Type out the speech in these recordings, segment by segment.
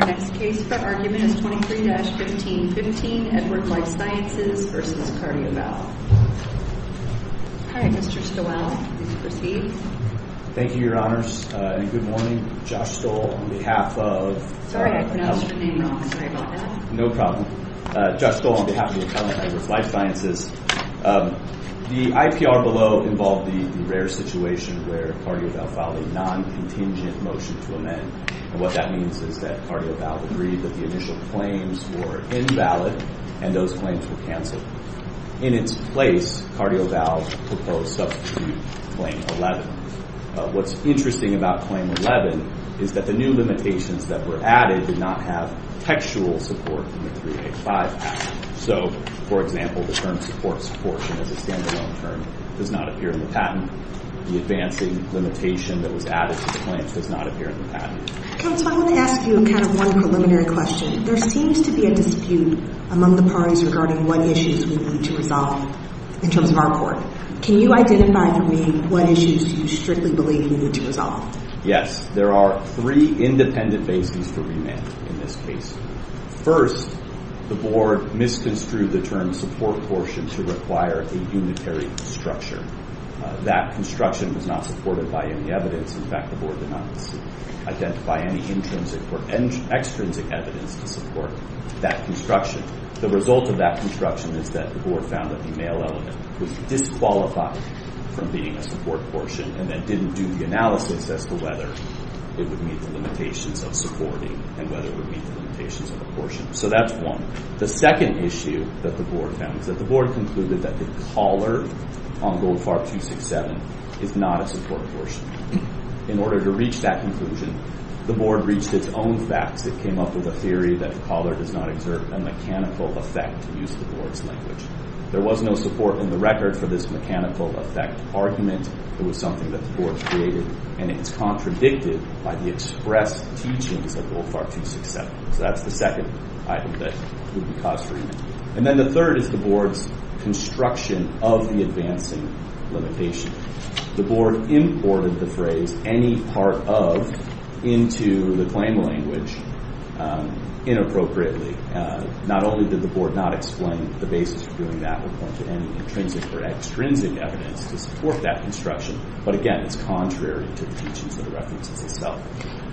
Our next case for argument is 23-1515, Edward Lifesciences v. Cardiovalve. Hi, Mr. Stowell. Please proceed. Thank you, Your Honors. And good morning. Josh Stowell, on behalf of... Sorry, I pronounced your name wrong. Sorry about that. No problem. Josh Stowell, on behalf of the Academy of Life Sciences. The IPR below involved the rare situation where Cardiovalve filed a non-contingent motion to amend. And what that means is that Cardiovalve agreed that the initial claims were invalid and those claims were canceled. In its place, Cardiovalve proposed substitute claim 11. What's interesting about claim 11 is that the new limitations that were added did not have textual support from the 385 patent. So, for example, the term supports portion as a stand-alone term does not appear in the patent. The advancing limitation that was added to the claims does not appear in the patent. Counsel, I want to ask you kind of one preliminary question. There seems to be a dispute among the parties regarding what issues we need to resolve in terms of our court. Can you identify for me what issues you strictly believe we need to resolve? Yes. There are three independent bases for remand in this case. First, the board misconstrued the term support portion to require a unitary structure. That construction was not supported by any evidence. In fact, the board did not identify any intrinsic or extrinsic evidence to support that construction. The result of that construction is that the board found that the male element was disqualified from being a support portion and then didn't do the analysis as to whether it would meet the limitations of supporting and whether it would meet the limitations of a portion. So that's one. The second issue that the board found is that the board concluded that the collar on Goldfarb 267 is not a support portion. In order to reach that conclusion, the board reached its own facts. It came up with a theory that the collar does not exert a mechanical effect, to use the board's language. There was no support in the record for this mechanical effect argument. It was something that the board created, and it is contradicted by the expressed teachings of Goldfarb 267. So that's the second item that would be cause for debate. And then the third is the board's construction of the advancing limitation. The board imported the phrase any part of into the claim language inappropriately. Not only did the board not explain the basis for doing that or point to any intrinsic or extrinsic evidence to support that construction, but again, it's contrary to the teachings of the references itself.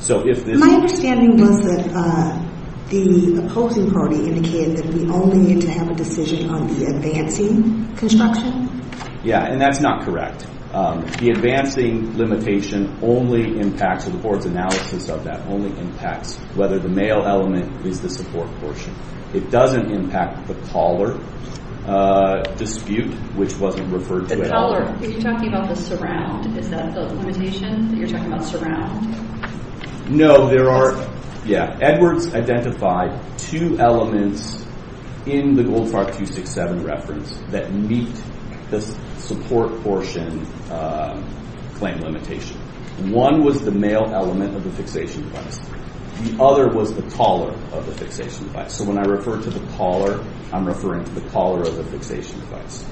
My understanding was that the opposing party indicated that we only need to have a decision on the advancing construction. Yeah, and that's not correct. The advancing limitation only impacts, or the board's analysis of that only impacts whether the male element is the support portion. It doesn't impact the collar dispute, which wasn't referred to at all. The collar, you're talking about the surround. Is that the limitation that you're talking about surround? No, there are, yeah, Edwards identified two elements in the Goldfarb 267 reference that meet the support portion claim limitation. One was the male element of the fixation device. The other was the collar of the fixation device. So when I refer to the collar, I'm referring to the collar of the fixation device.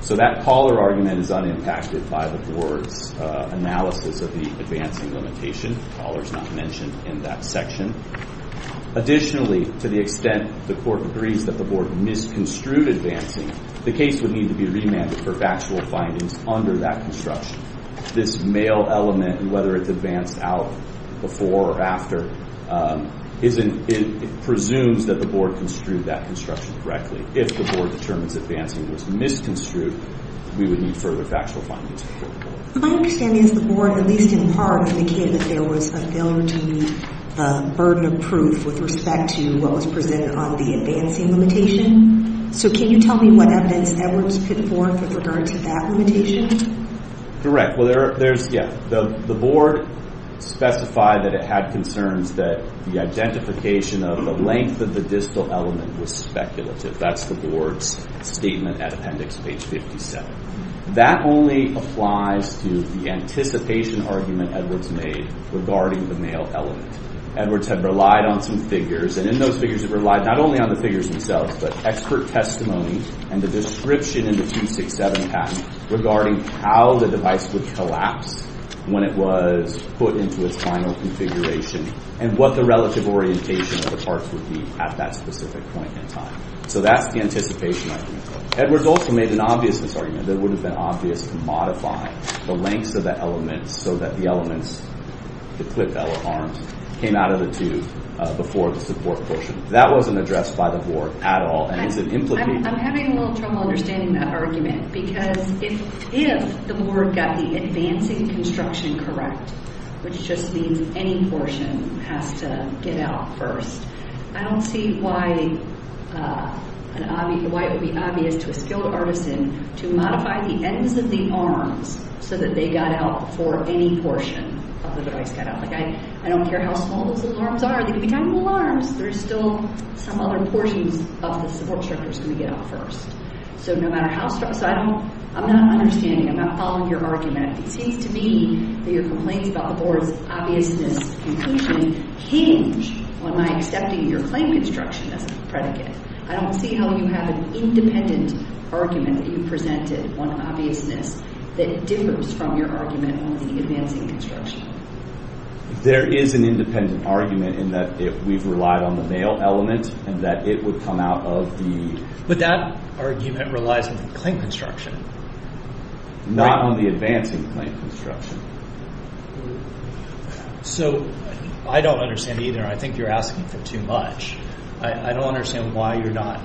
So that collar argument is unimpacted by the board's analysis of the advancing limitation. The collar's not mentioned in that section. Additionally, to the extent the court agrees that the board misconstrued advancing, the case would need to be remanded for factual findings under that construction. This male element, whether it's advanced out before or after, it presumes that the board construed that construction correctly. If the board determines advancing was misconstrued, we would need further factual findings. My understanding is the board, at least in part, indicated that there was a failure to meet the burden of proof with respect to what was presented on the advancing limitation. So can you tell me what evidence Edwards put forth with regard to that limitation? Correct. Well, there's, yeah. The board specified that it had concerns that the identification of the length of the distal element was speculative. That's the board's statement at Appendix Page 57. That only applies to the anticipation argument Edwards made regarding the male element. Edwards had relied on some figures. And in those figures, it relied not only on the figures themselves, but expert testimony and the description in the 267 patent regarding how the device would collapse when it was put into its final configuration, and what the relative orientation of the parts would be at that specific point in time. So that's the anticipation argument. Edwards also made an obviousness argument that it would have been obvious to modify the lengths of the elements so that the elements, the clip element arms, came out of the tube before the support portion. That wasn't addressed by the board at all. I'm having a little trouble understanding that argument, because if the board got the advancing construction correct, which just means any portion has to get out first, I don't see why it would be obvious to a skilled artisan to modify the ends of the arms so that they got out before any portion of the device got out. Like, I don't care how small those little arms are. They could be tiny little arms. There's still some other portions of the support structure that's going to get out first. So no matter how small. So I'm not understanding. I'm not following your argument. It seems to me that your complaints about the board's obviousness conclusion hinge on my accepting your claim construction as a predicate. I don't see how you have an independent argument that you presented on obviousness that differs from your argument on the advancing construction. There is an independent argument in that we've relied on the male element and that it would come out of the— But that argument relies on the claim construction. Not on the advancing claim construction. So I don't understand either. I think you're asking for too much. I don't understand why you're not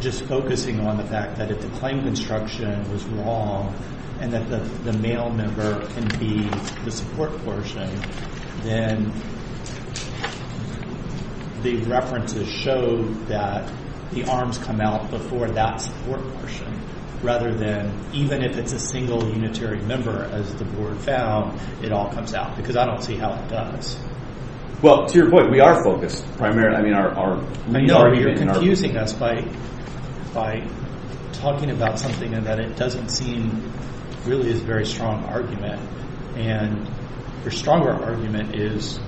just focusing on the fact that if the claim construction was wrong and that the male member can be the support portion, then the references show that the arms come out before that support portion rather than even if it's a single unitary member, as the board found, it all comes out. Because I don't see how it does. Well, to your point, we are focused primarily. I mean, our main argument— You're confusing us by talking about something that it doesn't seem really is a very strong argument. And your stronger argument is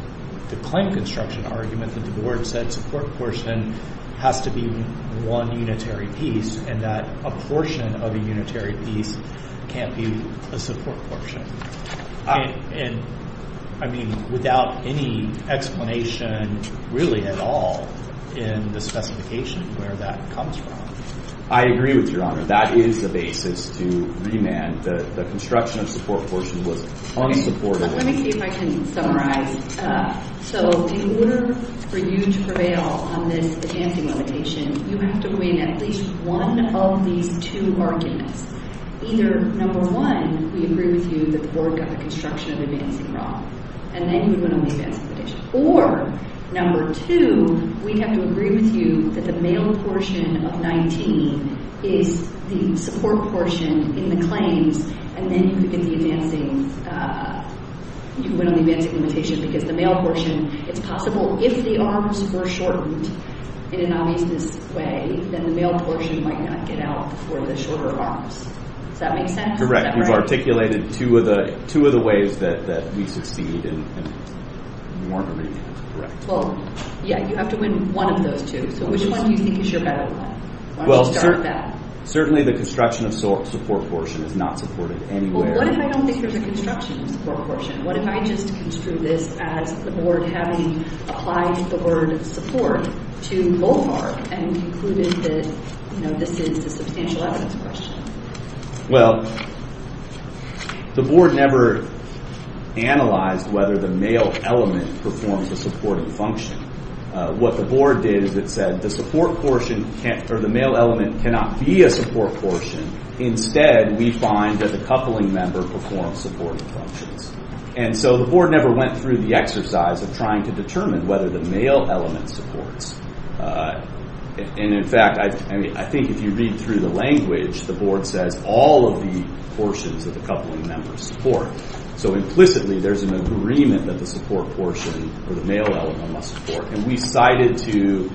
the claim construction argument that the board said support portion has to be one unitary piece and that a portion of a unitary piece can't be a support portion. And, I mean, without any explanation really at all in the specification where that comes from. I agree with Your Honor. That is the basis to remand. The construction of support portion was unsupported. Let me see if I can summarize. So in order for you to prevail on this advancing limitation, you have to win at least one of these two arguments. Either, number one, we agree with you that the board got the construction of advancing wrong. And then you would win on the advancing limitation. Or, number two, we have to agree with you that the male portion of 19 is the support portion in the claims and then you could win on the advancing limitation because the male portion, it's possible if the arms were shortened in an obvious way, then the male portion might not get out for the shorter arms. Does that make sense? Correct. You've articulated two of the ways that we succeed in warming. Well, yeah, you have to win one of those two. So which one do you think is your better one? Why don't you start with that? Well, certainly the construction of support portion is not supported anywhere. Well, what if I don't think there's a construction of support portion? What if I just construe this as the board having applied the word support to Bullmark and concluded that this is a substantial essence question? Well, the board never analyzed whether the male element performs a supportive function. What the board did is it said the support portion or the male element cannot be a support portion. Instead, we find that the coupling member performs supportive functions. And so the board never went through the exercise of trying to determine whether the male element supports. And, in fact, I think if you read through the language, the board says all of the portions of the coupling members support. So implicitly, there's an agreement that the support portion or the male element must support. And we cited to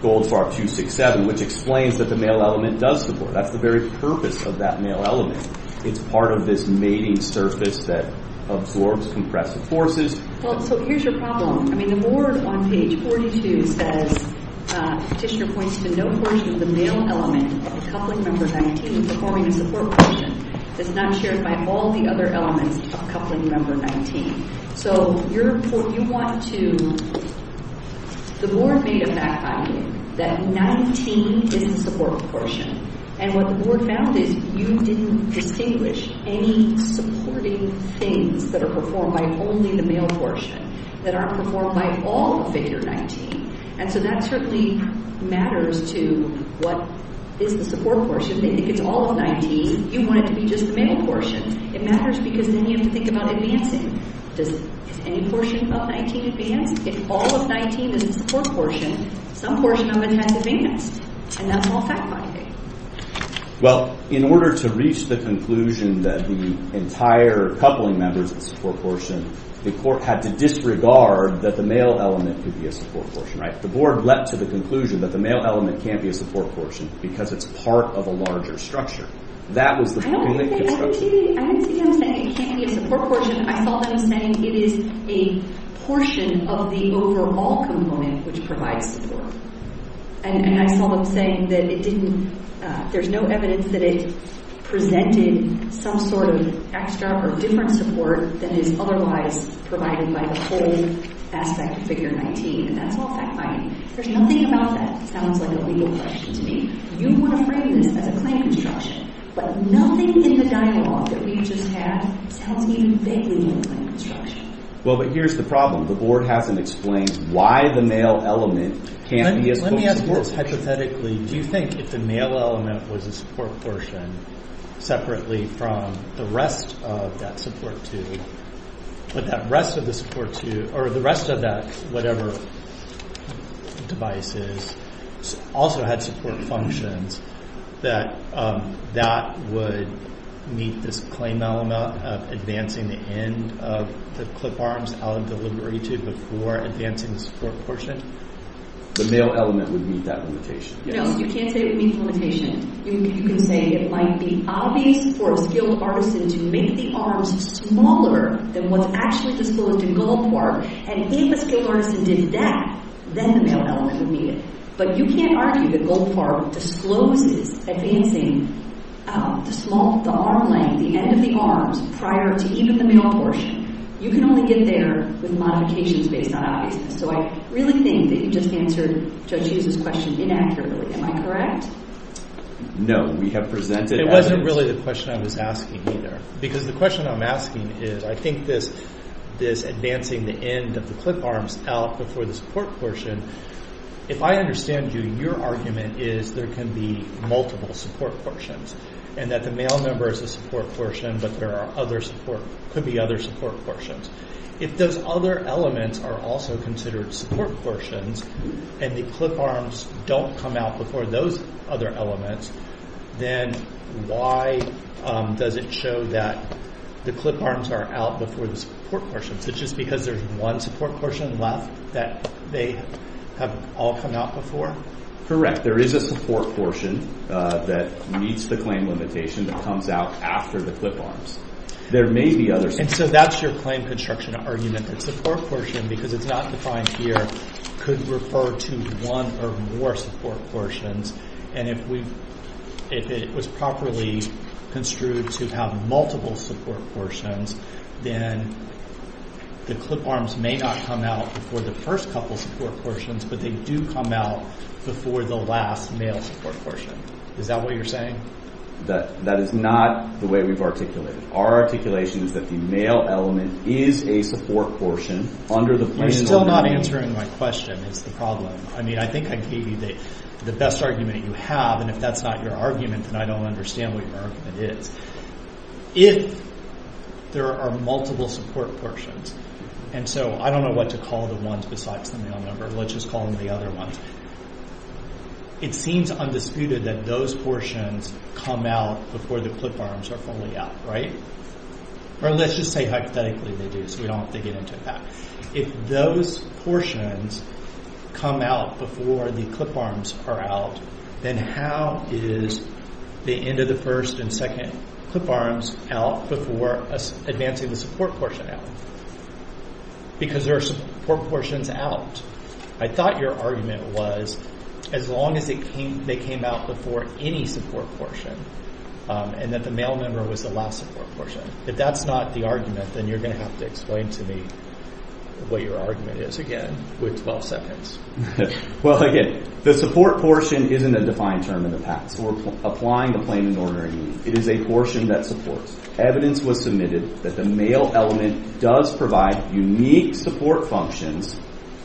Goldfarb 267, which explains that the male element does support. That's the very purpose of that male element. It's part of this mating surface that absorbs compressive forces. Well, so here's your problem. I mean, the board on page 42 says Petitioner points to no portion of the male element of the coupling member 19 performing a support portion. It's not shared by all the other elements of coupling member 19. So you want to – the board made a fact finding that 19 is the support portion. And what the board found is you didn't distinguish any supporting things that are performed by only the male portion, that aren't performed by all of figure 19. And so that certainly matters to what is the support portion. They think it's all of 19. You want it to be just the male portion. It matters because then you have to think about advancing. Does any portion of 19 advance? If all of 19 is the support portion, some portion of it has to advance. And that's all fact finding. Well, in order to reach the conclusion that the entire coupling member is the support portion, the court had to disregard that the male element could be a support portion, right? The board leapt to the conclusion that the male element can't be a support portion because it's part of a larger structure. That was the only construction. I didn't see them saying it can't be a support portion. I saw them saying it is a portion of the overall component which provides support. And I saw them saying that it didn't, there's no evidence that it presented some sort of extra or different support that is otherwise provided by the whole aspect of figure 19. And that's all fact finding. There's nothing about that, sounds like a legal question to me. You want to frame this as a claim construction. But nothing in the dialogue that we just had sounds even vaguely like a claim construction. Well, but here's the problem. The board hasn't explained why the male element can't be a support portion. Let me ask more hypothetically. Do you think if the male element was a support portion separately from the rest of that support tube, but that rest of the support tube, or the rest of that whatever device is, also had support functions that that would meet this claim element of advancing the end of the clip arms out of the liberty tube before advancing the support portion? The male element would meet that limitation. No, you can't say it would meet the limitation. You can say it might be obvious for a skilled artisan to make the arms smaller than what's actually disclosed in Gold Park. And if a skilled artisan did that, then the male element would meet it. But you can't argue that Gold Park discloses advancing the arm length, the end of the arms, prior to even the male portion. You can only get there with modifications based on obviousness. So I really think that you just answered Judge Hughes' question inaccurately. Am I correct? No. We have presented evidence. It wasn't really the question I was asking either. Because the question I'm asking is, I think this advancing the end of the clip arms out before the support portion, if I understand you, your argument is there can be multiple support portions and that the male member is a support portion but there could be other support portions. If those other elements are also considered support portions and the clip arms don't come out before those other elements, then why does it show that the clip arms are out before the support portions? Is it just because there's one support portion left that they have all come out before? There is a support portion that meets the claim limitation that comes out after the clip arms. There may be others. And so that's your claim construction argument. The support portion, because it's not defined here, could refer to one or more support portions. And if it was properly construed to have multiple support portions, then the clip arms may not come out before the first couple support portions, but they do come out before the last male support portion. Is that what you're saying? That is not the way we've articulated it. Our articulation is that the male element is a support portion under the plan. You're still not answering my question is the problem. I mean, I think I gave you the best argument that you have. And if that's not your argument, then I don't understand what your argument is. If there are multiple support portions, and so I don't know what to call the ones besides the male number. Let's just call them the other ones. It seems undisputed that those portions come out before the clip arms are fully out, right? Or let's just say hypothetically they do so we don't have to get into that. If those portions come out before the clip arms are out, then how is the end of the first and second clip arms out before advancing the support portion out? Because there are support portions out. I thought your argument was as long as they came out before any support portion and that the male number was the last support portion. If that's not the argument, then you're going to have to explain to me what your argument is again with 12 seconds. Well, again, the support portion isn't a defined term in the past or applying the plain and ordinary meaning. It is a portion that supports. Evidence was submitted that the male element does provide unique support functions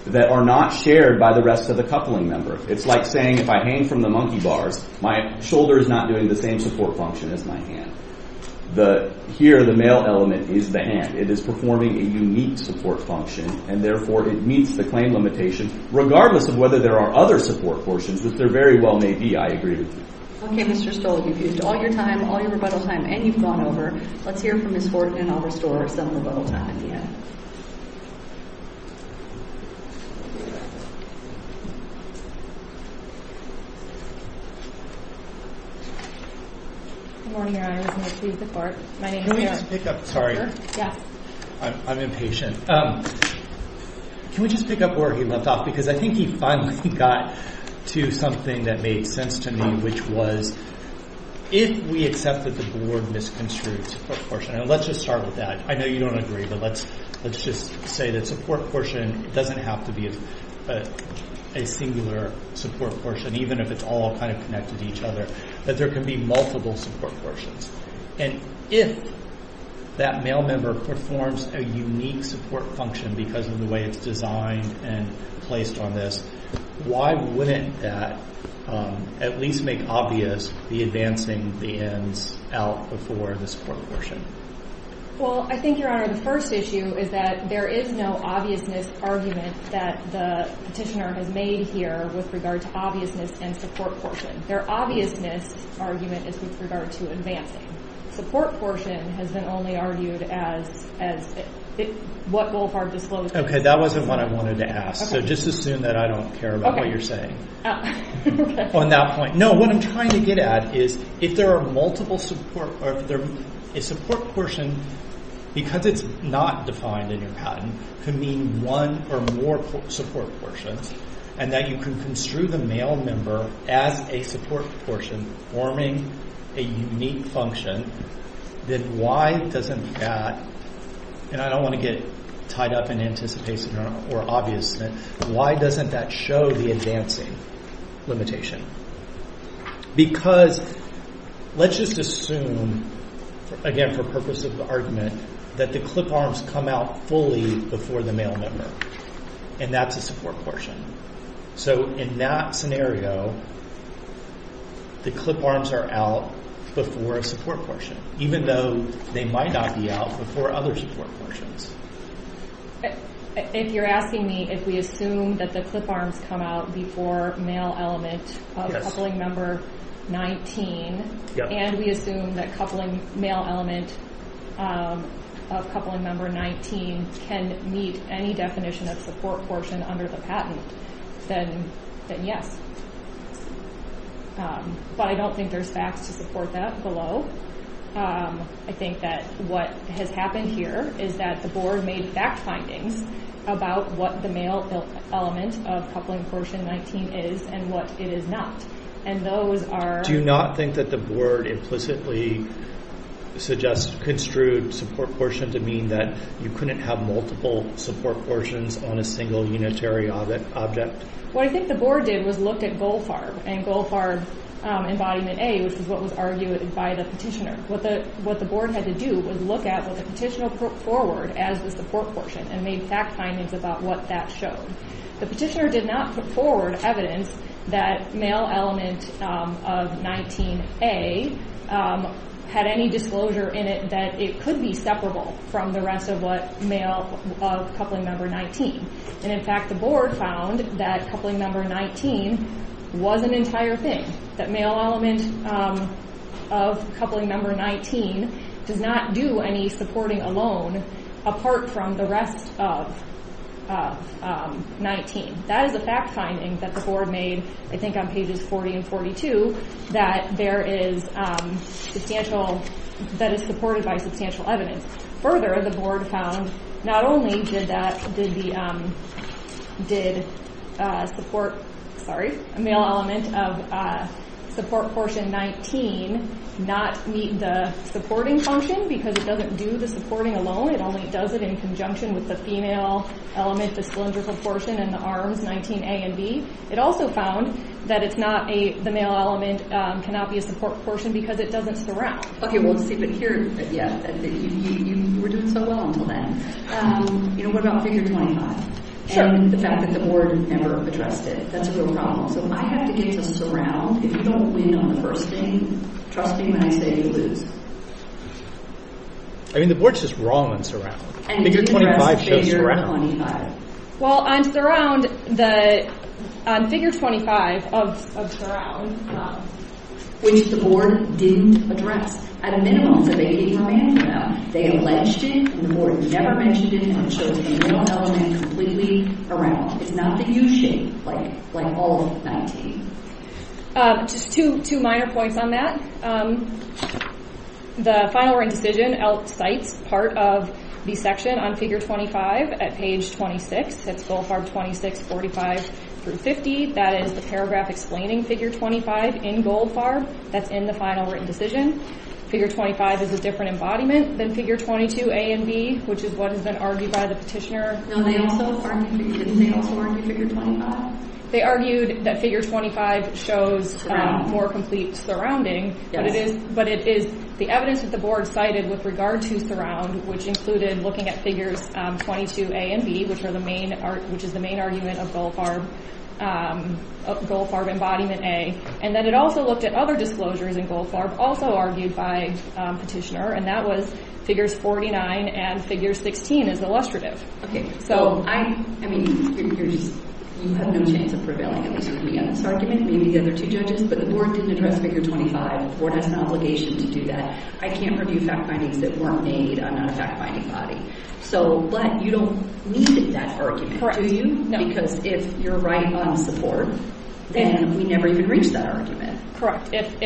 that are not shared by the rest of the coupling member. It's like saying if I hang from the monkey bars, my shoulder is not doing the same support function as my hand. Here, the male element is the hand. It is performing a unique support function and therefore it meets the claim limitation regardless of whether there are other support portions that there very well may be. I agree with you. Okay, Mr. Stoll. You've used all your time, all your rebuttal time, and you've gone over. Let's hear from Ms. Horton and I'll restore some of the rebuttal time at the end. Can we just pick up where he left off? Because I think he finally got to something that made sense to me, which was if we accept that the board misconstrued its support portion. Let's just start with that. I know you don't agree, but let's just say that support portion doesn't have to be a singular support portion, even if it's all kind of connected to each other, that there can be multiple support portions. And if that male member performs a unique support function because of the way it's designed and placed on this, why wouldn't that at least make obvious the advancing the ends out before the support portion? Well, I think, Your Honor, the first issue is that there is no obviousness argument that the petitioner has made here with regard to obviousness and support portion. Their obviousness argument is with regard to advancing. Support portion has been only argued as what Wolfhard disclosed. Okay, that wasn't what I wanted to ask. So just assume that I don't care about what you're saying on that point. No, what I'm trying to get at is if there are multiple support or if a support portion, because it's not defined in your patent, could mean one or more support portions, and that you can construe the male member as a support portion forming a unique function, then why doesn't that, and I don't want to get tied up in anticipation or obviousness, why doesn't that show the advancing limitation? Because let's just assume, again, for purpose of the argument, that the clip arms come out fully before the male member, and that's a support portion. So in that scenario, the clip arms are out before a support portion, even though they might not be out before other support portions. If you're asking me if we assume that the clip arms come out before male element of coupling member 19, and we assume that male element of coupling member 19 can meet any definition of support portion under the patent, then yes. But I don't think there's facts to support that below. I think that what has happened here is that the board made fact findings about what the male element of coupling portion 19 is and what it is not, and those are— Do you not think that the board implicitly suggests—construed support portion to mean that you couldn't have multiple support portions on a single unitary object? What I think the board did was look at GOLFARB, and GOLFARB Embodiment A, which is what was argued by the petitioner. What the board had to do was look at what the petitioner put forward as the support portion and made fact findings about what that showed. The petitioner did not put forward evidence that male element of 19A had any disclosure in it that it could be separable from the rest of what male coupling member 19. And in fact, the board found that coupling member 19 was an entire thing, that male element of coupling member 19 does not do any supporting alone apart from the rest of 19. That is a fact finding that the board made, I think, on pages 40 and 42, that there is substantial—that it's supported by substantial evidence. Further, the board found not only did the male element of support portion 19 not meet the supporting function because it doesn't do the supporting alone, it only does it in conjunction with the female element, the cylindrical portion, and the arms, 19A and B. It also found that the male element cannot be a support portion because it doesn't surround. Okay, well, see, but here, yeah, you were doing so well until then. You know, what about Figure 25? Sure. And the fact that the board never addressed it. That's a real problem. So I have to get to surround. If you don't win on the first thing, trust me when I say you lose. I mean, the board's just wrong on surround. Figure 25 shows surround. Well, on surround, on Figure 25 of surround, Just two minor points on that. The final written decision outcites part of the section on Figure 25 at page 26. That's Gold Farb 2645-50. That is the paragraph explaining Figure 25 in Gold Farb. That's in the final written decision. Figure 25 is a different embodiment than Figure 22A and B, which is what has been argued by the petitioner. No, they also, pardon me, did they also argue Figure 25? They argued that Figure 25 shows more complete surrounding, but it is the evidence that the board cited with regard to surround, which included looking at Figures 22A and B, which is the main argument of Gold Farb, Gold Farb Embodiment A. And then it also looked at other disclosures in Gold Farb, also argued by the petitioner, and that was Figures 49 and Figures 16 as illustrative. I mean, you have no chance of prevailing, at least with me on this argument, maybe the other two judges, but the board didn't address Figure 25. The board has an obligation to do that. I can't review fact findings that weren't made on our fact-finding body. But you don't need that argument, do you? No. Because if you're right on the support, then we never even reach that argument. Correct. If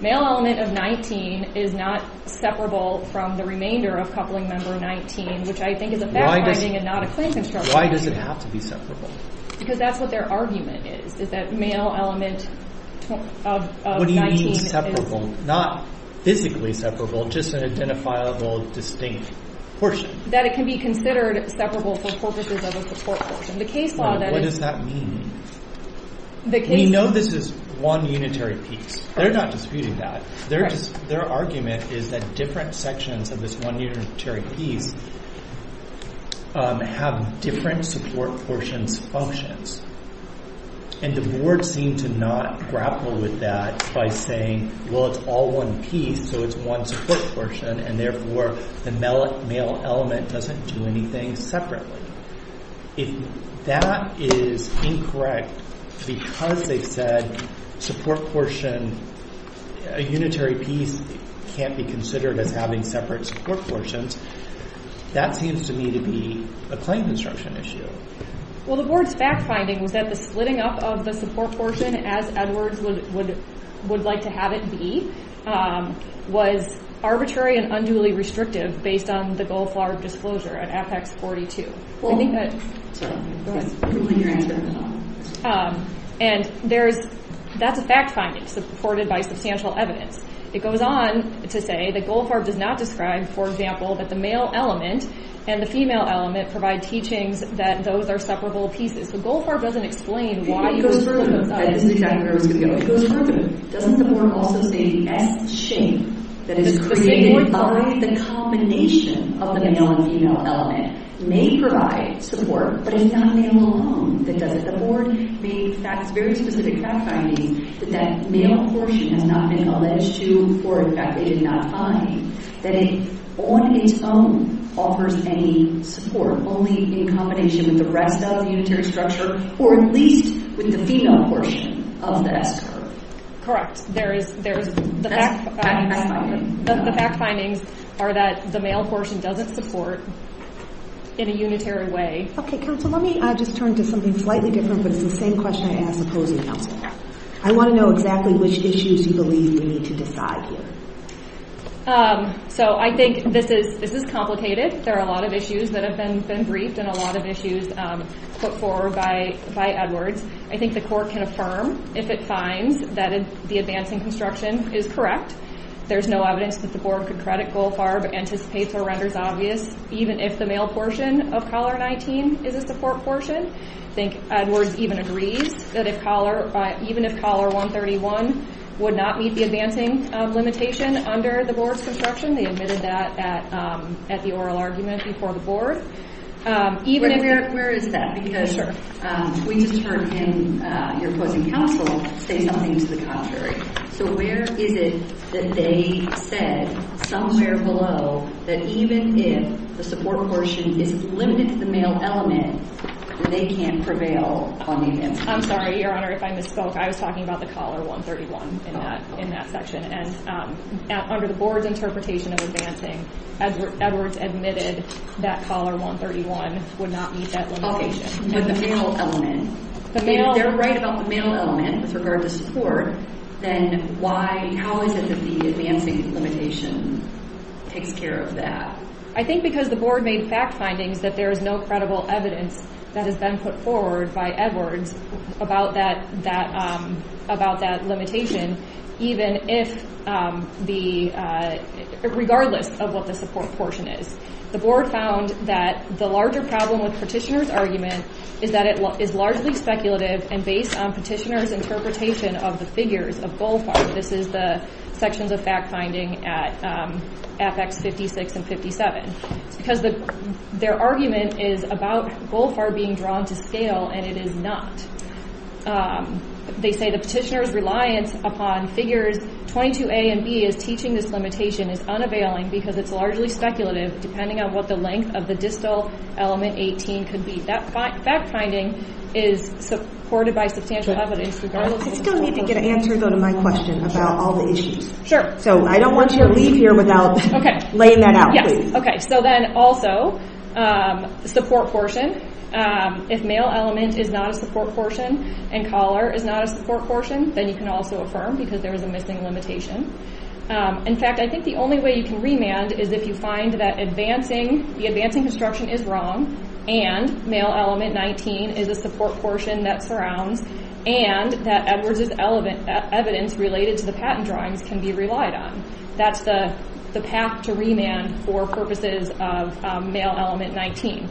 male element of 19 is not separable from the remainder of coupling member 19, which I think is a fact-finding and not a claim construction. Why does it have to be separable? Because that's what their argument is, is that male element of 19 is separable. What do you mean separable? Not physically separable, just an identifiable, distinct portion. That it can be considered separable for purposes of a support portion. The case law that is— What does that mean? We know this is one unitary piece. They're not disputing that. Their argument is that different sections of this one unitary piece have different support portions functions. And the board seemed to not grapple with that by saying, well, it's all one piece, so it's one support portion, and therefore the male element doesn't do anything separately. If that is incorrect because they said support portion, a unitary piece can't be considered as having separate support portions, that seems to me to be a claim construction issue. Well, the board's fact-finding was that the splitting up of the support portion, as Edwards would like to have it be, was arbitrary and unduly restrictive based on the Goldfarb disclosure at Apex 42. And that's a fact-finding supported by substantial evidence. It goes on to say that Goldfarb does not describe, for example, that the male element and the female element provide teachings that those are separable pieces. So Goldfarb doesn't explain why— Maybe it goes further than that. Doesn't the board also say the S-shape that is created by the combination of the male and female element may provide support, but it's not male alone? Does the board make very specific fact-finding that that male portion has not been alleged to, or in fact they did not find that it on its own offers any support, only in combination with the rest of the unitary structure, or at least with the female portion of the S-curve? Correct. There is— That's fact-finding. The fact-findings are that the male portion doesn't support in a unitary way. Okay, counsel, let me just turn to something slightly different, but it's the same question I asked the opposing counsel. I want to know exactly which issues you believe we need to decide here. So I think this is complicated. There are a lot of issues that have been briefed and a lot of issues put forward by Edwards. I think the court can affirm if it finds that the advancing construction is correct. There's no evidence that the board could credit Goldfarb, anticipates or renders obvious, even if the male portion of Collar 19 is a support portion. I think Edwards even agrees that even if Collar 131 would not meet the advancing limitation under the board's construction, they admitted that at the oral argument before the board. Where is that? Because we just heard him, your opposing counsel, say something to the contrary. So where is it that they said somewhere below that even if the support portion is limited to the male element, they can't prevail on the advancing construction? I'm sorry, Your Honor, if I misspoke. I was talking about the Collar 131 in that section. And under the board's interpretation of advancing, Edwards admitted that Collar 131 would not meet that limitation. But the male element. They're right about the male element with regard to support. Then how is it that the advancing limitation takes care of that? I think because the board made fact findings that there is no credible evidence that has been put forward by Edwards about that limitation, regardless of what the support portion is. The board found that the larger problem with Petitioner's argument is that it is largely speculative and based on Petitioner's interpretation of the figures of GOLFAR. This is the sections of fact finding at Apex 56 and 57. Because their argument is about GOLFAR being drawn to scale, and it is not. They say the Petitioner's reliance upon figures 22A and B as teaching this limitation is unavailing because it's largely speculative depending on what the length of the distal element 18 could be. That fact finding is supported by substantial evidence. I still need to get an answer, though, to my question about all the issues. So I don't want you to leave here without laying that out. Also, support portion. If male element is not a support portion and collar is not a support portion, then you can also affirm because there is a missing limitation. In fact, I think the only way you can remand is if you find that the advancing construction is wrong and male element 19 is a support portion that surrounds and that Edwards' evidence related to the patent drawings can be relied on. That's the path to remand for purposes of male element 19.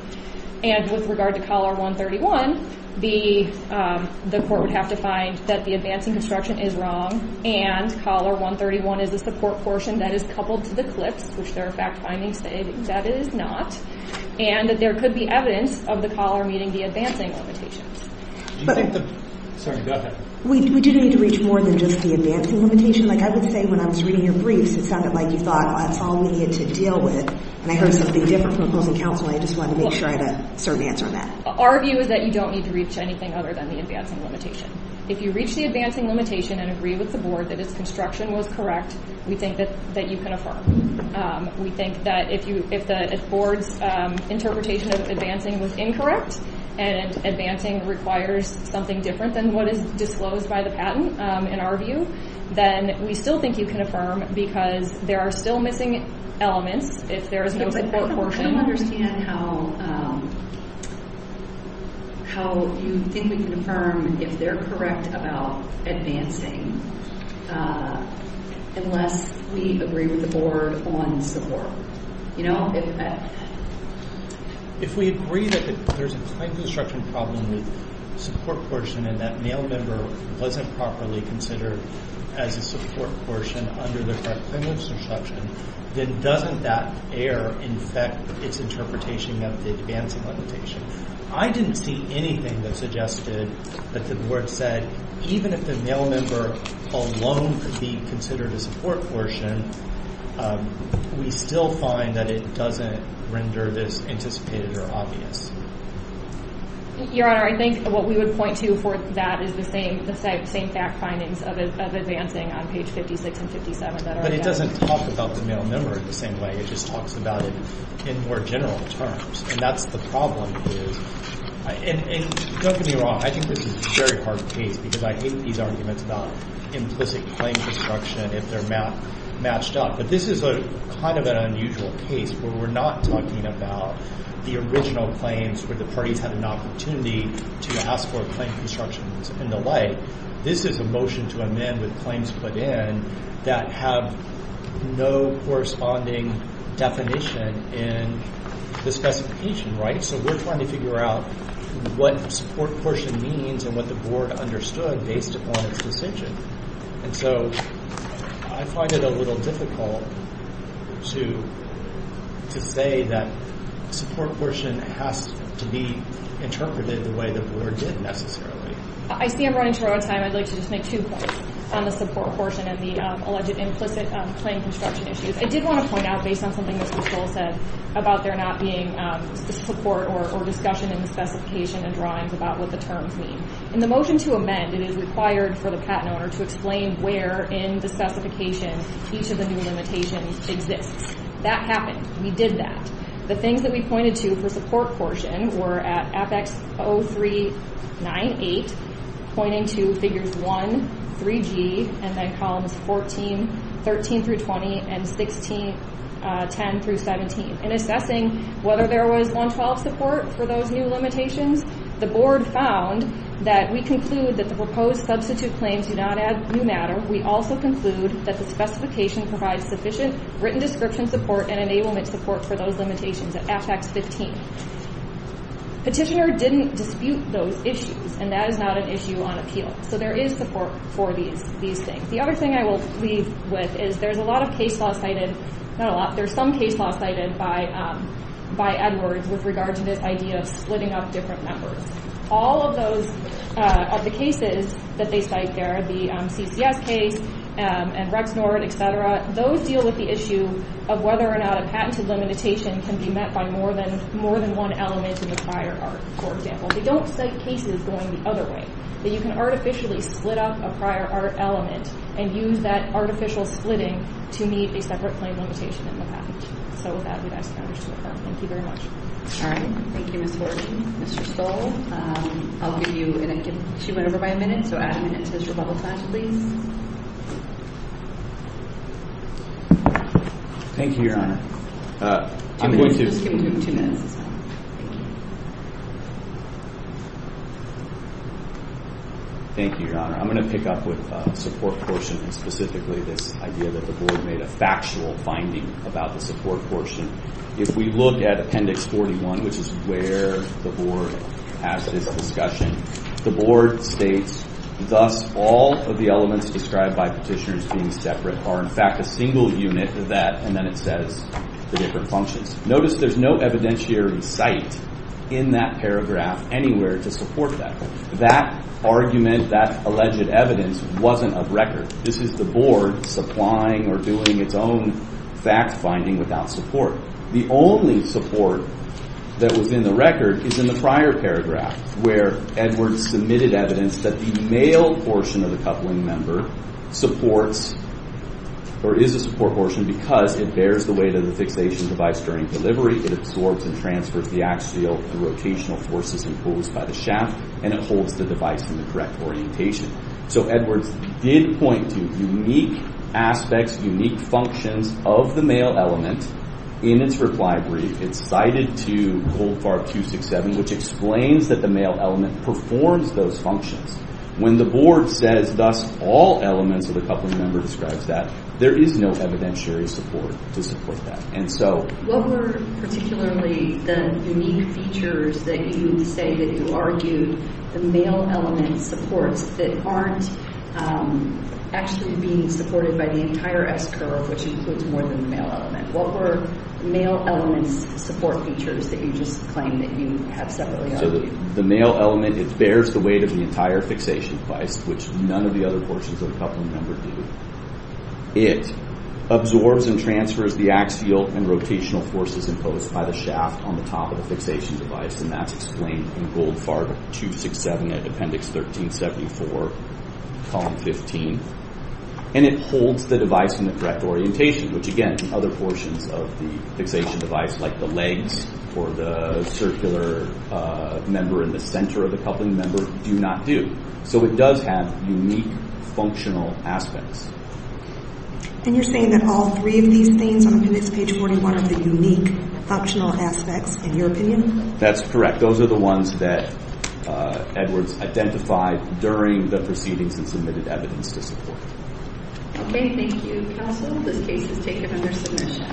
And with regard to collar 131, the court would have to find that the advancing construction is wrong and collar 131 is a support portion that is coupled to the clips, which their fact findings say that is not, and that there could be evidence of the collar meeting the advancing limitations. We didn't need to reach more than just the advancing limitation. I would say when I was reading your briefs, it sounded like you thought, well, that's all we need to deal with, and I heard something different from opposing counsel, and I just wanted to make sure I had a certain answer on that. Our view is that you don't need to reach anything other than the advancing limitation. If you reach the advancing limitation and agree with the board that its construction was correct, we think that you can affirm. We think that if the board's interpretation of advancing was incorrect and advancing requires something different than what is disclosed by the patent, in our view, then we still think you can affirm because there are still missing elements if there is no support portion. I don't understand how you think we can affirm if they're correct about advancing unless we agree with the board on support. If we agree that there's a construction problem with support portion and that mail member wasn't properly considered as a support portion under the current criminal instruction, then doesn't that error infect its interpretation of the advancing limitation? I didn't see anything that suggested that the board said, even if the mail member alone could be considered a support portion, we still find that it doesn't render this anticipated or obvious. Your Honor, I think what we would point to for that is the same fact findings of advancing on page 56 and 57. But it doesn't talk about the mail member in the same way. It just talks about it in more general terms, and that's the problem. And don't get me wrong. I think this is a very hard case because I hate these arguments about implicit claim construction if they're matched up. But this is kind of an unusual case where we're not talking about the original claims where the parties had an opportunity to ask for a claim construction and the like. This is a motion to amend with claims put in that have no corresponding definition in the specification. So we're trying to figure out what support portion means and what the board understood based upon its decision. And so I find it a little difficult to say that support portion has to be interpreted the way the board did necessarily. I see I'm running short on time. I'd like to just make two points on the support portion and the alleged implicit claim construction issues. I did want to point out, based on something Mr. Stoll said, about there not being support or discussion in the specification and drawings about what the terms mean. In the motion to amend, it is required for the patent owner to explain where in the specification each of the new limitations exists. That happened. We did that. The things that we pointed to for support portion were at Apex 0398, pointing to figures 1, 3G, and then columns 14, 13 through 20, and 16, 10 through 17. In assessing whether there was 112 support for those new limitations, the board found that we conclude that the proposed substitute claims do not add new matter. We also conclude that the specification provides sufficient written description support and enablement support for those limitations at Apex 15. Petitioner didn't dispute those issues, and that is not an issue on appeal. So there is support for these things. The other thing I will leave with is there is some case law cited by Edwards with regard to this idea of splitting up different numbers. All of the cases that they cite there, the CCS case and Rexnord, etc., those deal with the issue of whether or not a patented limitation can be met by more than one element in the prior art, for example. They don't cite cases going the other way. But you can artificially split up a prior art element and use that artificial splitting to meet a separate claim limitation in the patent. So with that, we'd ask the witness to affirm. Thank you very much. All right. Thank you, Ms. Horton. Mr. Stoll, I'll give you a minute. She went over by a minute, so add a minute to this rebuttal time, please. Thank you, Your Honor. Just give him two minutes as well. Thank you, Your Honor. I'm going to pick up with the support portion and specifically this idea that the Board made a factual finding about the support portion. If we look at Appendix 41, which is where the Board has this discussion, the Board states, Thus, all of the elements described by petitioners being separate are in fact a single unit of that, and then it says the different functions. Notice there's no evidentiary cite in that paragraph anywhere to support that. That argument, that alleged evidence wasn't of record. This is the Board supplying or doing its own fact-finding without support. The only support that was in the record is in the prior paragraph where Edwards submitted evidence that the male portion of the coupling member supports or is a support portion because it bears the weight of the fixation device during delivery. It absorbs and transfers the axial and rotational forces imposed by the shaft, and it holds the device in the correct orientation. So Edwards did point to unique aspects, unique functions of the male element in its reply brief. It's cited to Goldfarb 267, which explains that the male element performs those functions. When the Board says, Thus, all elements of the coupling member describes that, there is no evidentiary support to support that. What were particularly the unique features that you would say that you argue the male element supports that aren't actually being supported by the entire S-curve, which includes more than the male element? What were the male element's support features that you just claim that you have separately argued? The male element, it bears the weight of the entire fixation device, which none of the other portions of the coupling member do. It absorbs and transfers the axial and rotational forces imposed by the shaft on the top of the fixation device, and that's explained in Goldfarb 267 at Appendix 1374, Column 15. And it holds the device in the correct orientation, which, again, other portions of the fixation device, like the legs or the circular member in the center of the coupling member, do not do. So it does have unique functional aspects. And you're saying that all three of these things on Appendix page 41 are the unique functional aspects, in your opinion? That's correct. Those are the ones that Edwards identified during the proceedings and submitted evidence to support. Okay. Thank you, Counsel. This case is taken under submission.